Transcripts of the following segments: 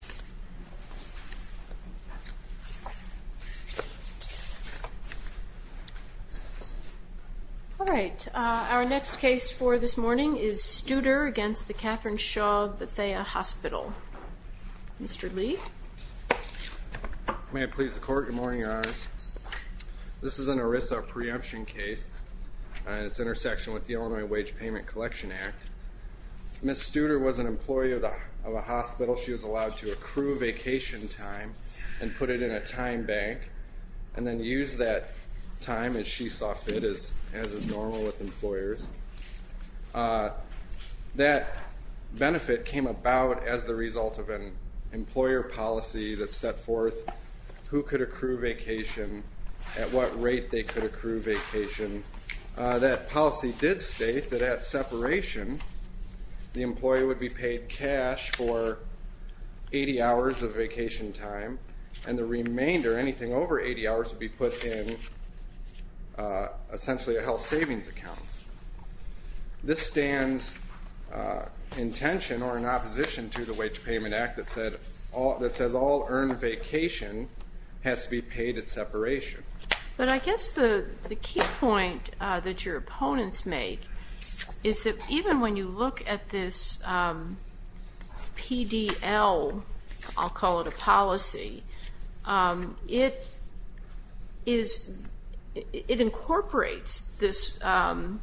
Good morning, Your Honors. This is an ERISA preemption case, it's intersection with the Illinois Wage Payment Collection Act. Ms. Studer was an employee of a hospital. She was allowed to apply for a job, and she was not allowed to work. She was not allowed to work. The next case is Studer v. Katherine Shaw Bethea Hospital. Mr. Lee. She was allowed to accrue vacation time and put it in a time bank, and then use that time as she saw fit, as is normal with employers. That benefit came about as the result of an employer policy that set forth who could accrue vacation, at what rate they could accrue vacation. That policy did state that at separation, the employee would be paid cash for 80 hours of vacation time, and the remainder, anything over 80 hours, would be put in essentially a health savings account. This stands in tension or in opposition to the Wage Payment Act that says all earned vacation has to be paid at separation. But I guess the key point that your opponents make is that even when you look at this PDL, I'll call it a policy, it incorporates this WBA,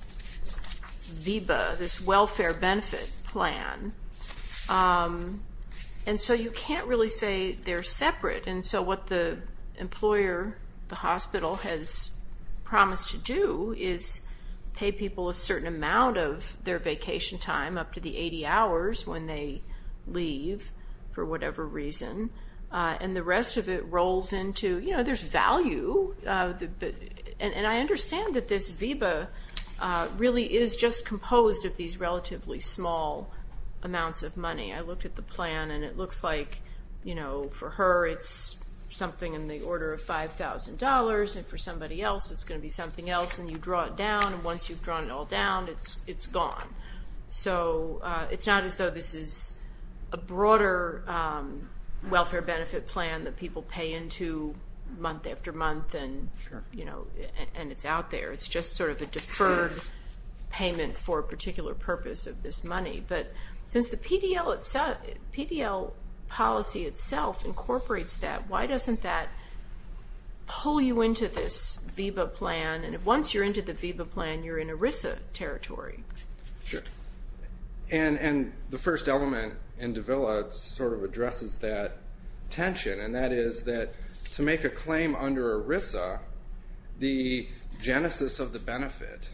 this welfare benefit plan. And so you can't really say they're separate. And so what the employer, the hospital, has promised to do is pay people a certain amount of their vacation time, up to the 80 hours when they leave, for whatever reason. And the rest of it rolls into, you know, there's value. And I understand that this WBA really is just composed of these relatively small amounts of money. I looked at the plan, and it looks like, you know, for her it's something in the order of $5,000, and for somebody else it's going to be something else. And you draw it down, and once you've drawn it all down, it's gone. So it's not as though this is a broader welfare benefit plan that people pay into month after month, and it's out there. It's just sort of a deferred payment for a particular purpose of this money. But since the PDL itself, PDL policy itself incorporates that, why doesn't that pull you into this VBA plan? And once you're into the VBA plan, you're in ERISA territory. Sure. And the first element in Davila sort of addresses that tension, and that is that to make a claim under ERISA, the genesis of the benefit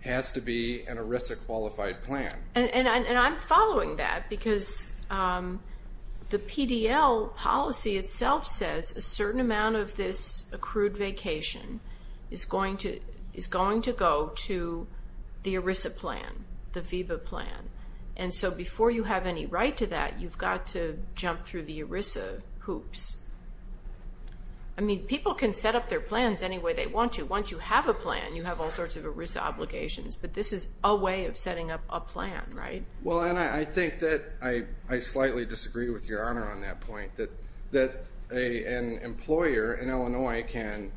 has to be an ERISA qualified plan. And I'm following that, because the PDL policy itself says a certain amount of this accrued vacation is going to go to the ERISA plan, the VBA plan. And so before you have any right to that, you've got to jump through the ERISA hoops. I mean, people can set up their plans any way they want to. Once you have a plan, you have all sorts of ERISA obligations. But this is a way of setting up a plan, right? Well, and I think that I slightly disagree with Your Honor on that point, that an employer in Illinois can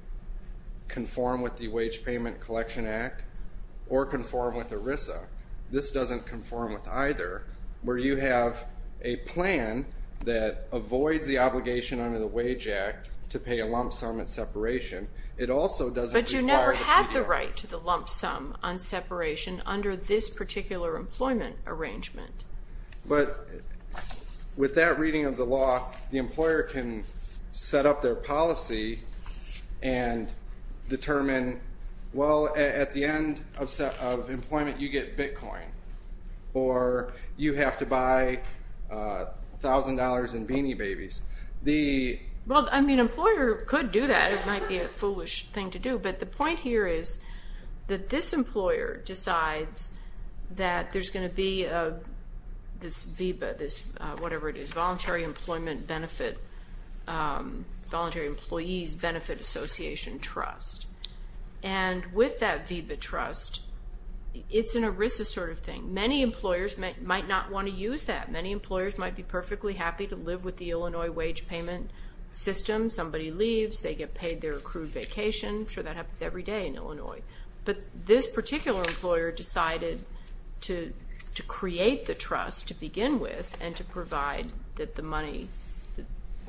conform with the Wage Payment Collection Act or conform with ERISA. This doesn't conform with either. Where you have a plan that avoids the obligation under the Wage Act to pay a lump sum at separation, it also doesn't require the PDL. You have the right to the lump sum on separation under this particular employment arrangement. But with that reading of the law, the employer can set up their policy and determine, well, at the end of employment, you get Bitcoin, or you have to buy $1,000 in Beanie Babies. Well, I mean, an employer could do that. It might be a foolish thing to do. But the point here is that this employer decides that there's going to be this VBA, this Voluntary Employees Benefit Association Trust. And with that VBA trust, it's an ERISA sort of thing. Many employers might not want to use that. Many employers might be perfectly happy to live with the Illinois wage payment system. Somebody leaves, they get paid their accrued vacation. I'm sure that happens every day in Illinois. But this particular employer decided to create the trust to begin with and to provide that the money,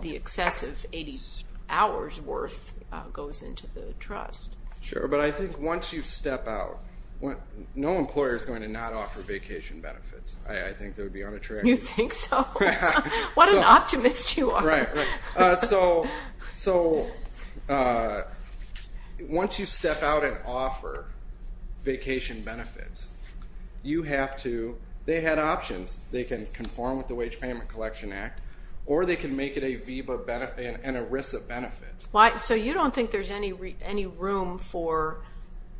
the excessive 80 hours worth, goes into the trust. Sure, but I think once you step out, no employer is going to not offer vacation benefits. I think they would be unattractive. You think so? What an optimist you are. Right, right. So once you step out and offer vacation benefits, you have to, they had options. They can conform with the Wage Payment Collection Act, or they can make it an ERISA benefit. So you don't think there's any room for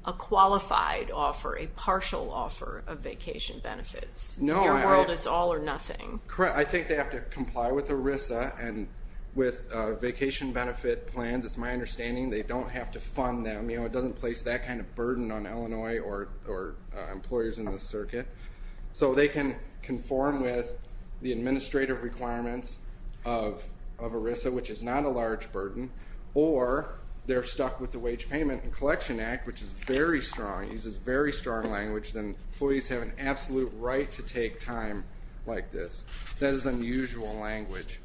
a qualified offer, a partial offer of vacation benefits? No, I don't. Your world is all or nothing. Correct. I think they have to comply with ERISA and with vacation benefit plans. It's my understanding they don't have to fund them. It doesn't place that kind of burden on Illinois or employers in this circuit. So they can conform with the administrative requirements of ERISA, which is not a large burden, or they're stuck with the Wage Payment Collection Act, which is very strong. It uses very strong language. Employees have an absolute right to take time like this. That is unusual language.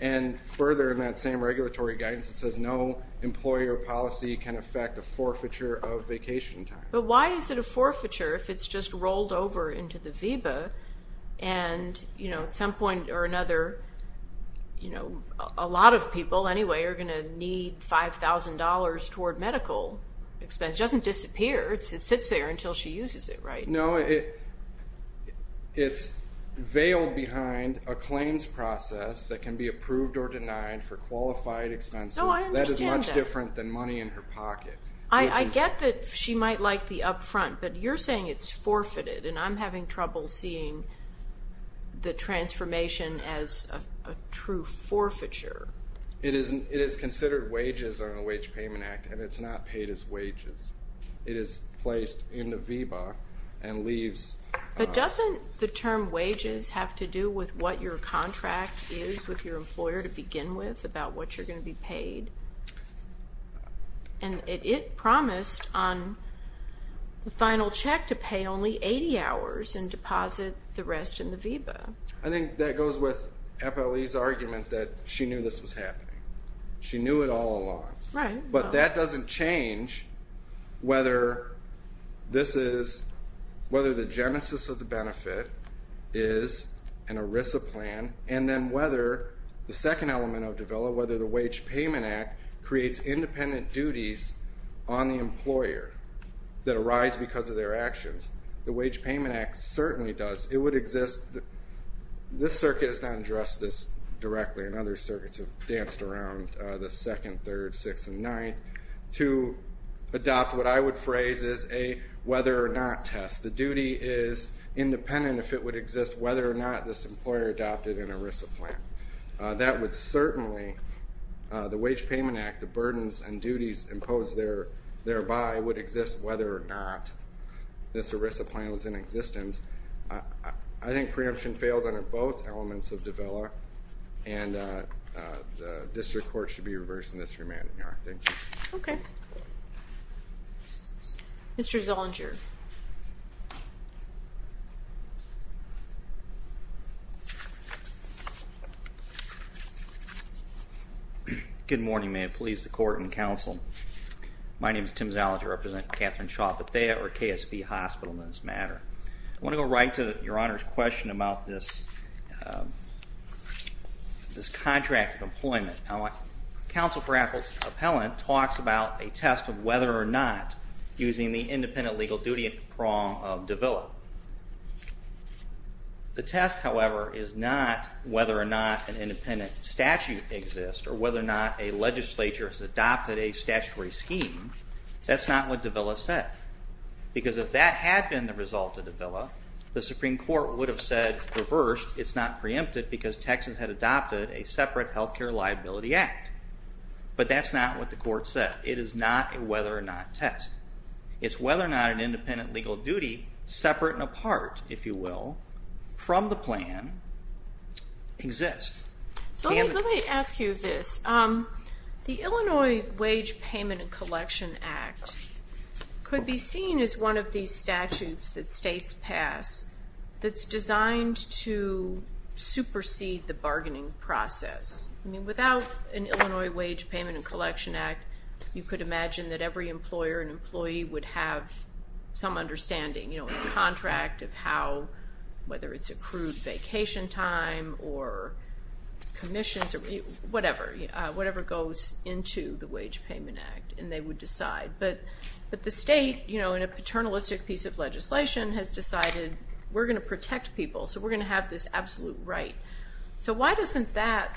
And further in that same regulatory guidance, it says no employer policy can affect a forfeiture of vacation time. But why is it a forfeiture if it's just rolled over into the VEBA? And at some point or another, a lot of people anyway are going to need $5,000 toward medical expenses. It doesn't disappear. It sits there until she uses it, right? No, it's veiled behind a claims process that can be approved or denied for qualified expenses. No, I understand that. That is much different than money in her pocket. I get that she might like the upfront, but you're saying it's forfeited, and I'm having trouble seeing the transformation as a true forfeiture. It is considered wages under the Wage Payment Act, and it's not paid as wages. It is placed in the VEBA and leaves... But doesn't the term wages have to do with what your contract is with your employer to begin with about what you're going to be paid? And it promised on the final check to pay only 80 hours and deposit the rest in the VEBA. I think that goes with FLE's argument that she knew this was happening. She knew it all along. Right. But that doesn't change whether the genesis of the benefit is an ERISA plan, and then whether the second element of DEVILA, whether the Wage Payment Act creates independent duties on the employer that arise because of their actions. The Wage Payment Act certainly does. It would exist... This circuit has not addressed this directly, and other circuits have danced around the second, third, sixth, and ninth, to adopt what I would phrase as a whether or not test. The duty is independent if it would exist whether or not this employer adopted an ERISA plan. That would certainly, the Wage Payment Act, the burdens and duties imposed thereby would exist whether or not this ERISA plan was in existence. I think preemption fails under both elements of DEVILA, and the District Court should be reversing this remand in your honor. Thank you. Okay. Mr. Zellinger. Good morning. May it please the Court and Counsel. My name is Tim Zellinger. I represent Catherine Shaw Bethea, or KSB Hospital, in this matter. I want to go right to your Honor's question about this contract of employment. Counsel for Appellant talks about a test of whether or not using the independent legal duty prong of DEVILA. The test, however, is not whether or not an independent statute exists, or whether or not a legislature has adopted a statutory scheme. That's not what DEVILA said. Because if that had been the result of DEVILA, the Supreme Court would have said, reversed, it's not preempted because Texas had adopted a separate health care liability act. But that's not what the Court said. It is not a whether or not test. It's whether or not an independent legal duty, separate and apart, if you will, from the plan exists. Let me ask you this. The Illinois Wage Payment and Collection Act could be seen as one of these statutes that states pass that's designed to supersede the bargaining process. I mean, without an Illinois Wage Payment and Collection Act, you could imagine that every employer and employee would have some understanding, you know, in the contract of how, whether it's accrued vacation time or commissions or whatever, whatever goes into the Wage Payment Act, and they would decide. But the state, you know, in a paternalistic piece of legislation, has decided we're going to protect people, so we're going to have this absolute right. So why doesn't that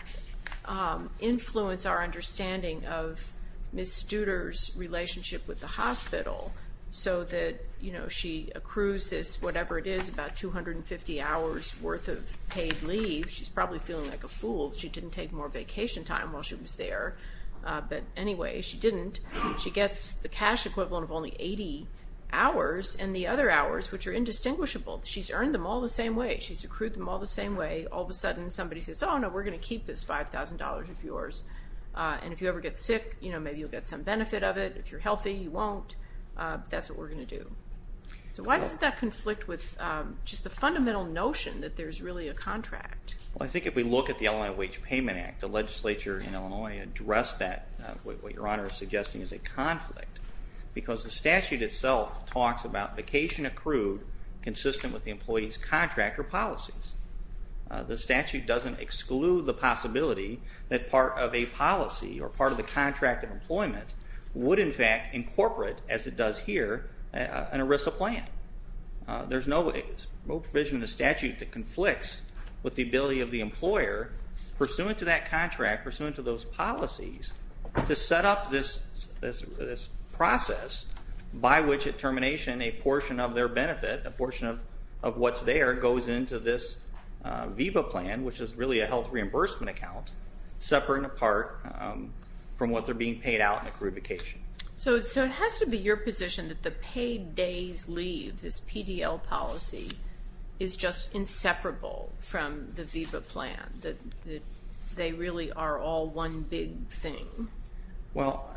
influence our understanding of Ms. Studer's relationship with the hospital? So that, you know, she accrues this, whatever it is, about 250 hours worth of paid leave. She's probably feeling like a fool. She didn't take more vacation time while she was there. But anyway, she didn't. She gets the cash equivalent of only 80 hours and the other hours, which are indistinguishable. She's earned them all the same way. She's accrued them all the same way. All of a sudden, somebody says, oh, no, we're going to keep this $5,000 of yours. And if you ever get sick, you know, maybe you'll get some benefit of it. If you're healthy, you won't. But that's what we're going to do. So why doesn't that conflict with just the fundamental notion that there's really a contract? Well, I think if we look at the Illinois Wage Payment Act, the legislature in Illinois addressed that, what Your Honor is suggesting is a conflict. Because the statute itself talks about vacation accrued consistent with the employee's contract or policies. The statute doesn't exclude the possibility that part of a policy or part of the contract of employment would, in fact, incorporate, as it does here, an ERISA plan. There's no provision in the statute that conflicts with the ability of the employer, pursuant to that contract, pursuant to those policies, to set up this process by which at termination a portion of their benefit, a portion of what's there, goes into this VEBA plan, which is really a health reimbursement account, separate and apart from what they're being paid out in accrued vacation. So it has to be your position that the paid days leave, this PDL policy, is just inseparable from the VEBA plan? That they really are all one big thing? Well,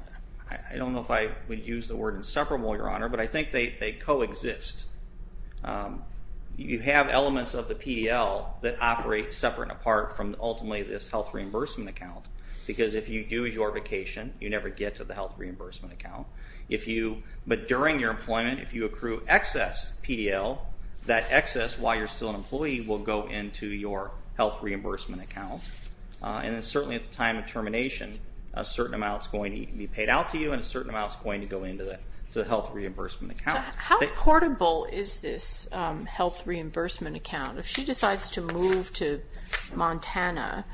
I don't know if I would use the word inseparable, Your Honor, but I think they coexist. You have elements of the PDL that operate separate and apart from, ultimately, this health reimbursement account. Because if you do your vacation, you never get to the health reimbursement account. But during your employment, if you accrue excess PDL, that excess, while you're still an employee, will go into your health reimbursement account. And certainly at the time of termination, a certain amount is going to be paid out to you, and a certain amount is going to go into the health reimbursement account. How portable is this health reimbursement account? If she decides to move to Montana,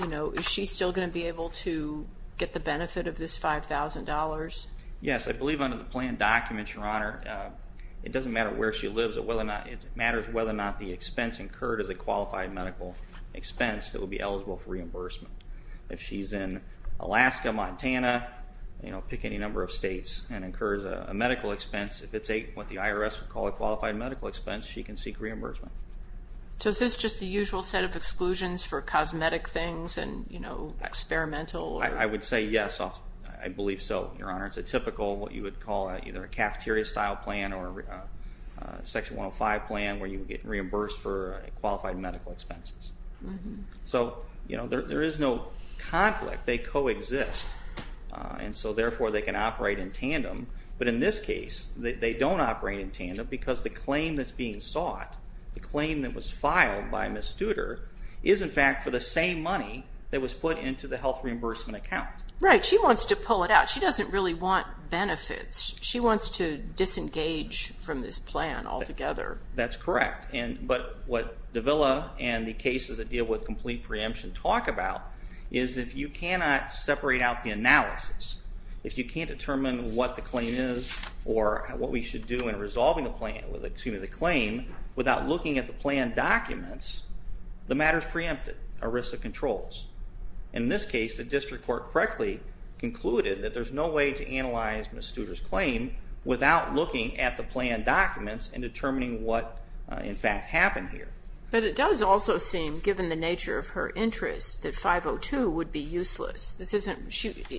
is she still going to be able to get the benefit of this $5,000? Yes. I believe under the plan documents, Your Honor, it doesn't matter where she lives. It matters whether or not the expense incurred is a qualified medical expense that would be eligible for reimbursement. If she's in Alaska, Montana, pick any number of states, and incurs a medical expense, if it's what the IRS would call a qualified medical expense, she can seek reimbursement. So is this just the usual set of exclusions for cosmetic things and experimental? I would say yes, I believe so, Your Honor. It's a typical, what you would call either a cafeteria-style plan or a Section 105 plan, where you would get reimbursed for qualified medical expenses. So there is no conflict. And so, therefore, they can operate in tandem. But in this case, they don't operate in tandem because the claim that's being sought, the claim that was filed by Ms. Studer, is, in fact, for the same money that was put into the health reimbursement account. Right. She wants to pull it out. She doesn't really want benefits. She wants to disengage from this plan altogether. That's correct. But what Davila and the cases that deal with complete preemption talk about is if you cannot separate out the analysis, if you can't determine what the claim is or what we should do in resolving the claim without looking at the plan documents, the matter is preempted, a risk of controls. In this case, the district court correctly concluded that there's no way to analyze Ms. Studer's claim without looking at the plan documents and determining what, in fact, happened here. But it does also seem, given the nature of her interest, that 502 would be useless.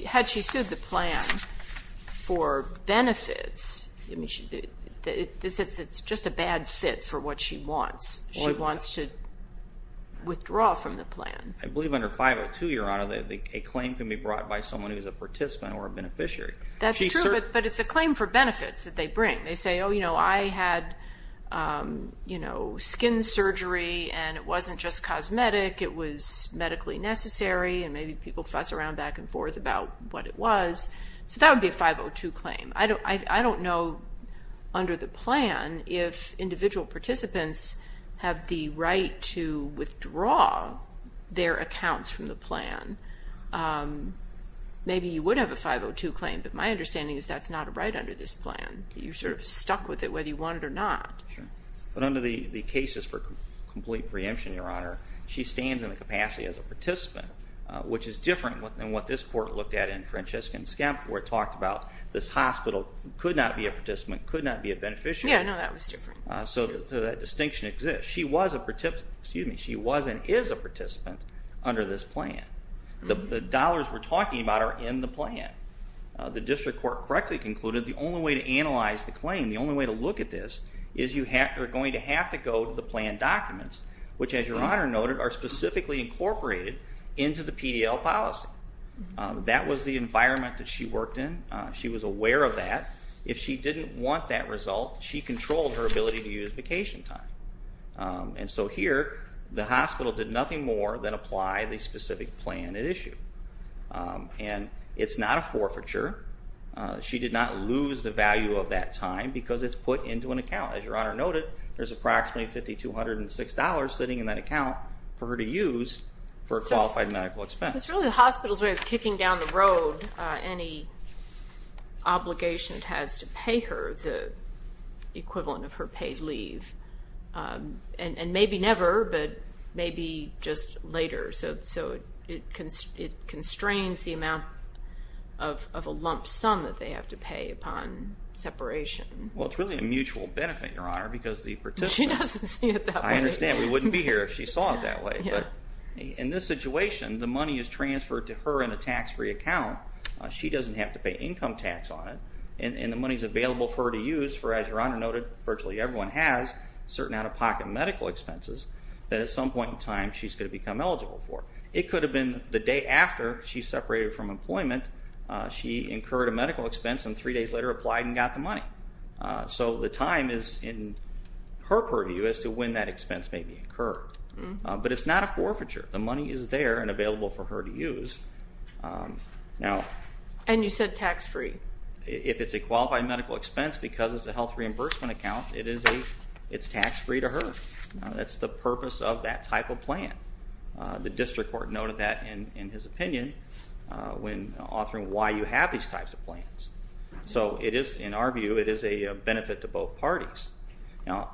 Had she sued the plan for benefits, it's just a bad fit for what she wants. She wants to withdraw from the plan. I believe under 502, Your Honor, a claim can be brought by someone who's a participant or a beneficiary. That's true, but it's a claim for benefits that they bring. They say, oh, you know, I had skin surgery, and it wasn't just cosmetic. It was medically necessary, and maybe people fuss around back and forth about what it was. So that would be a 502 claim. I don't know under the plan if individual participants have the right to withdraw their accounts from the plan. Maybe you would have a 502 claim, but my understanding is that's not a right under this plan. You're sort of stuck with it whether you want it or not. But under the cases for complete preemption, Your Honor, she stands in the capacity as a participant, which is different than what this court looked at in Francesca and Skemp, where it talked about this hospital could not be a participant, could not be a beneficiary. Yeah, no, that was different. So that distinction exists. She was and is a participant under this plan. The dollars we're talking about are in the plan. The district court correctly concluded the only way to analyze the claim, the only way to look at this, is you are going to have to go to the plan documents, which, as Your Honor noted, are specifically incorporated into the PDL policy. That was the environment that she worked in. She was aware of that. If she didn't want that result, she controlled her ability to use vacation time. And so here, the hospital did nothing more than apply the specific plan at issue. And it's not a forfeiture. She did not lose the value of that time because it's put into an account. As Your Honor noted, there's approximately $5,206 sitting in that account for her to use for a qualified medical expense. It's really the hospital's way of kicking down the road any obligation it has to pay her, the equivalent of her paid leave, and maybe never, but maybe just later. So it constrains the amount of a lump sum that they have to pay upon separation. Well, it's really a mutual benefit, Your Honor, because the participant— She doesn't see it that way. I understand. We wouldn't be here if she saw it that way. But in this situation, the money is transferred to her in a tax-free account. She doesn't have to pay income tax on it. And the money is available for her to use for, as Your Honor noted, virtually everyone has certain out-of-pocket medical expenses that at some point in time she's going to become eligible for. It could have been the day after she separated from employment. She incurred a medical expense and three days later applied and got the money. So the time is in her purview as to when that expense may be incurred. But it's not a forfeiture. The money is there and available for her to use. And you said tax-free. If it's a qualified medical expense because it's a health reimbursement account, it's tax-free to her. That's the purpose of that type of plan. The district court noted that in his opinion when authoring why you have these types of plans. So it is, in our view, it is a benefit to both parties. Now,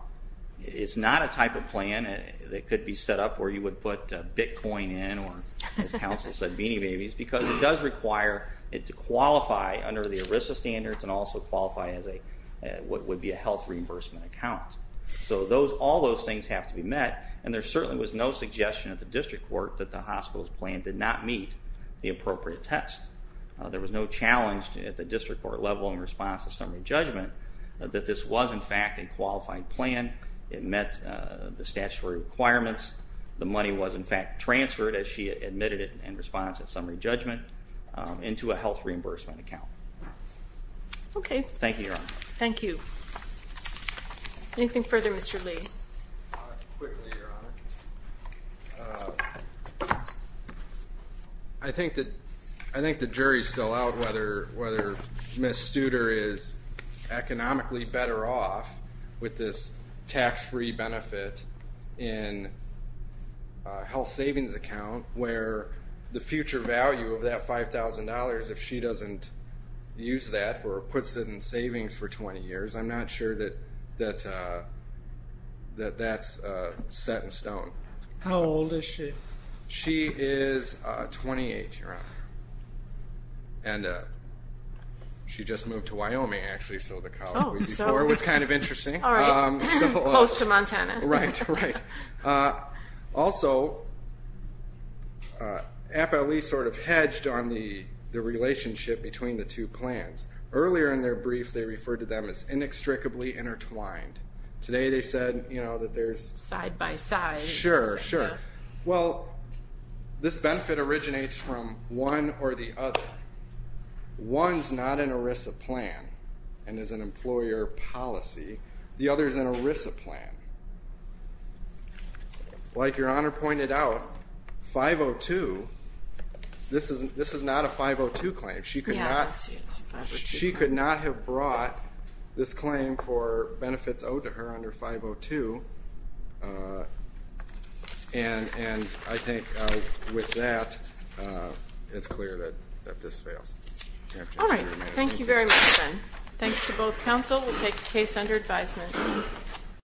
it's not a type of plan that could be set up where you would put Bitcoin in or, as counsel said, Beanie Babies, because it does require it to qualify under the ERISA standards and also qualify as what would be a health reimbursement account. So all those things have to be met, and there certainly was no suggestion at the district court that the hospital's plan did not meet the appropriate test. There was no challenge at the district court level in response to summary judgment that this was, in fact, a qualified plan. It met the statutory requirements. The money was, in fact, transferred as she admitted it in response to summary judgment into a health reimbursement account. Okay. Thank you, Your Honor. Thank you. Anything further, Mr. Lee? Quickly, Your Honor. I think the jury's still out whether Ms. Studer is economically better off with this tax-free benefit in a health savings account where the future value of that $5,000, if she doesn't use that or puts it in savings for 20 years, I'm not sure that that's set in stone. How old is she? She is 28, Your Honor. And she just moved to Wyoming, actually, so the college before was kind of interesting. All right. Close to Montana. Right, right. Also, Appellee sort of hedged on the relationship between the two plans. Earlier in their briefs, they referred to them as inextricably intertwined. Today they said that there's- Side by side. Sure, sure. Well, this benefit originates from one or the other. One's not an ERISA plan and is an employer policy. The other is an ERISA plan. Like Your Honor pointed out, 502, this is not a 502 claim. She could not have brought this claim for benefits owed to her under 502, and I think with that, it's clear that this fails. All right. Thank you very much, then. Thanks to both counsel. We'll take the case under advisement.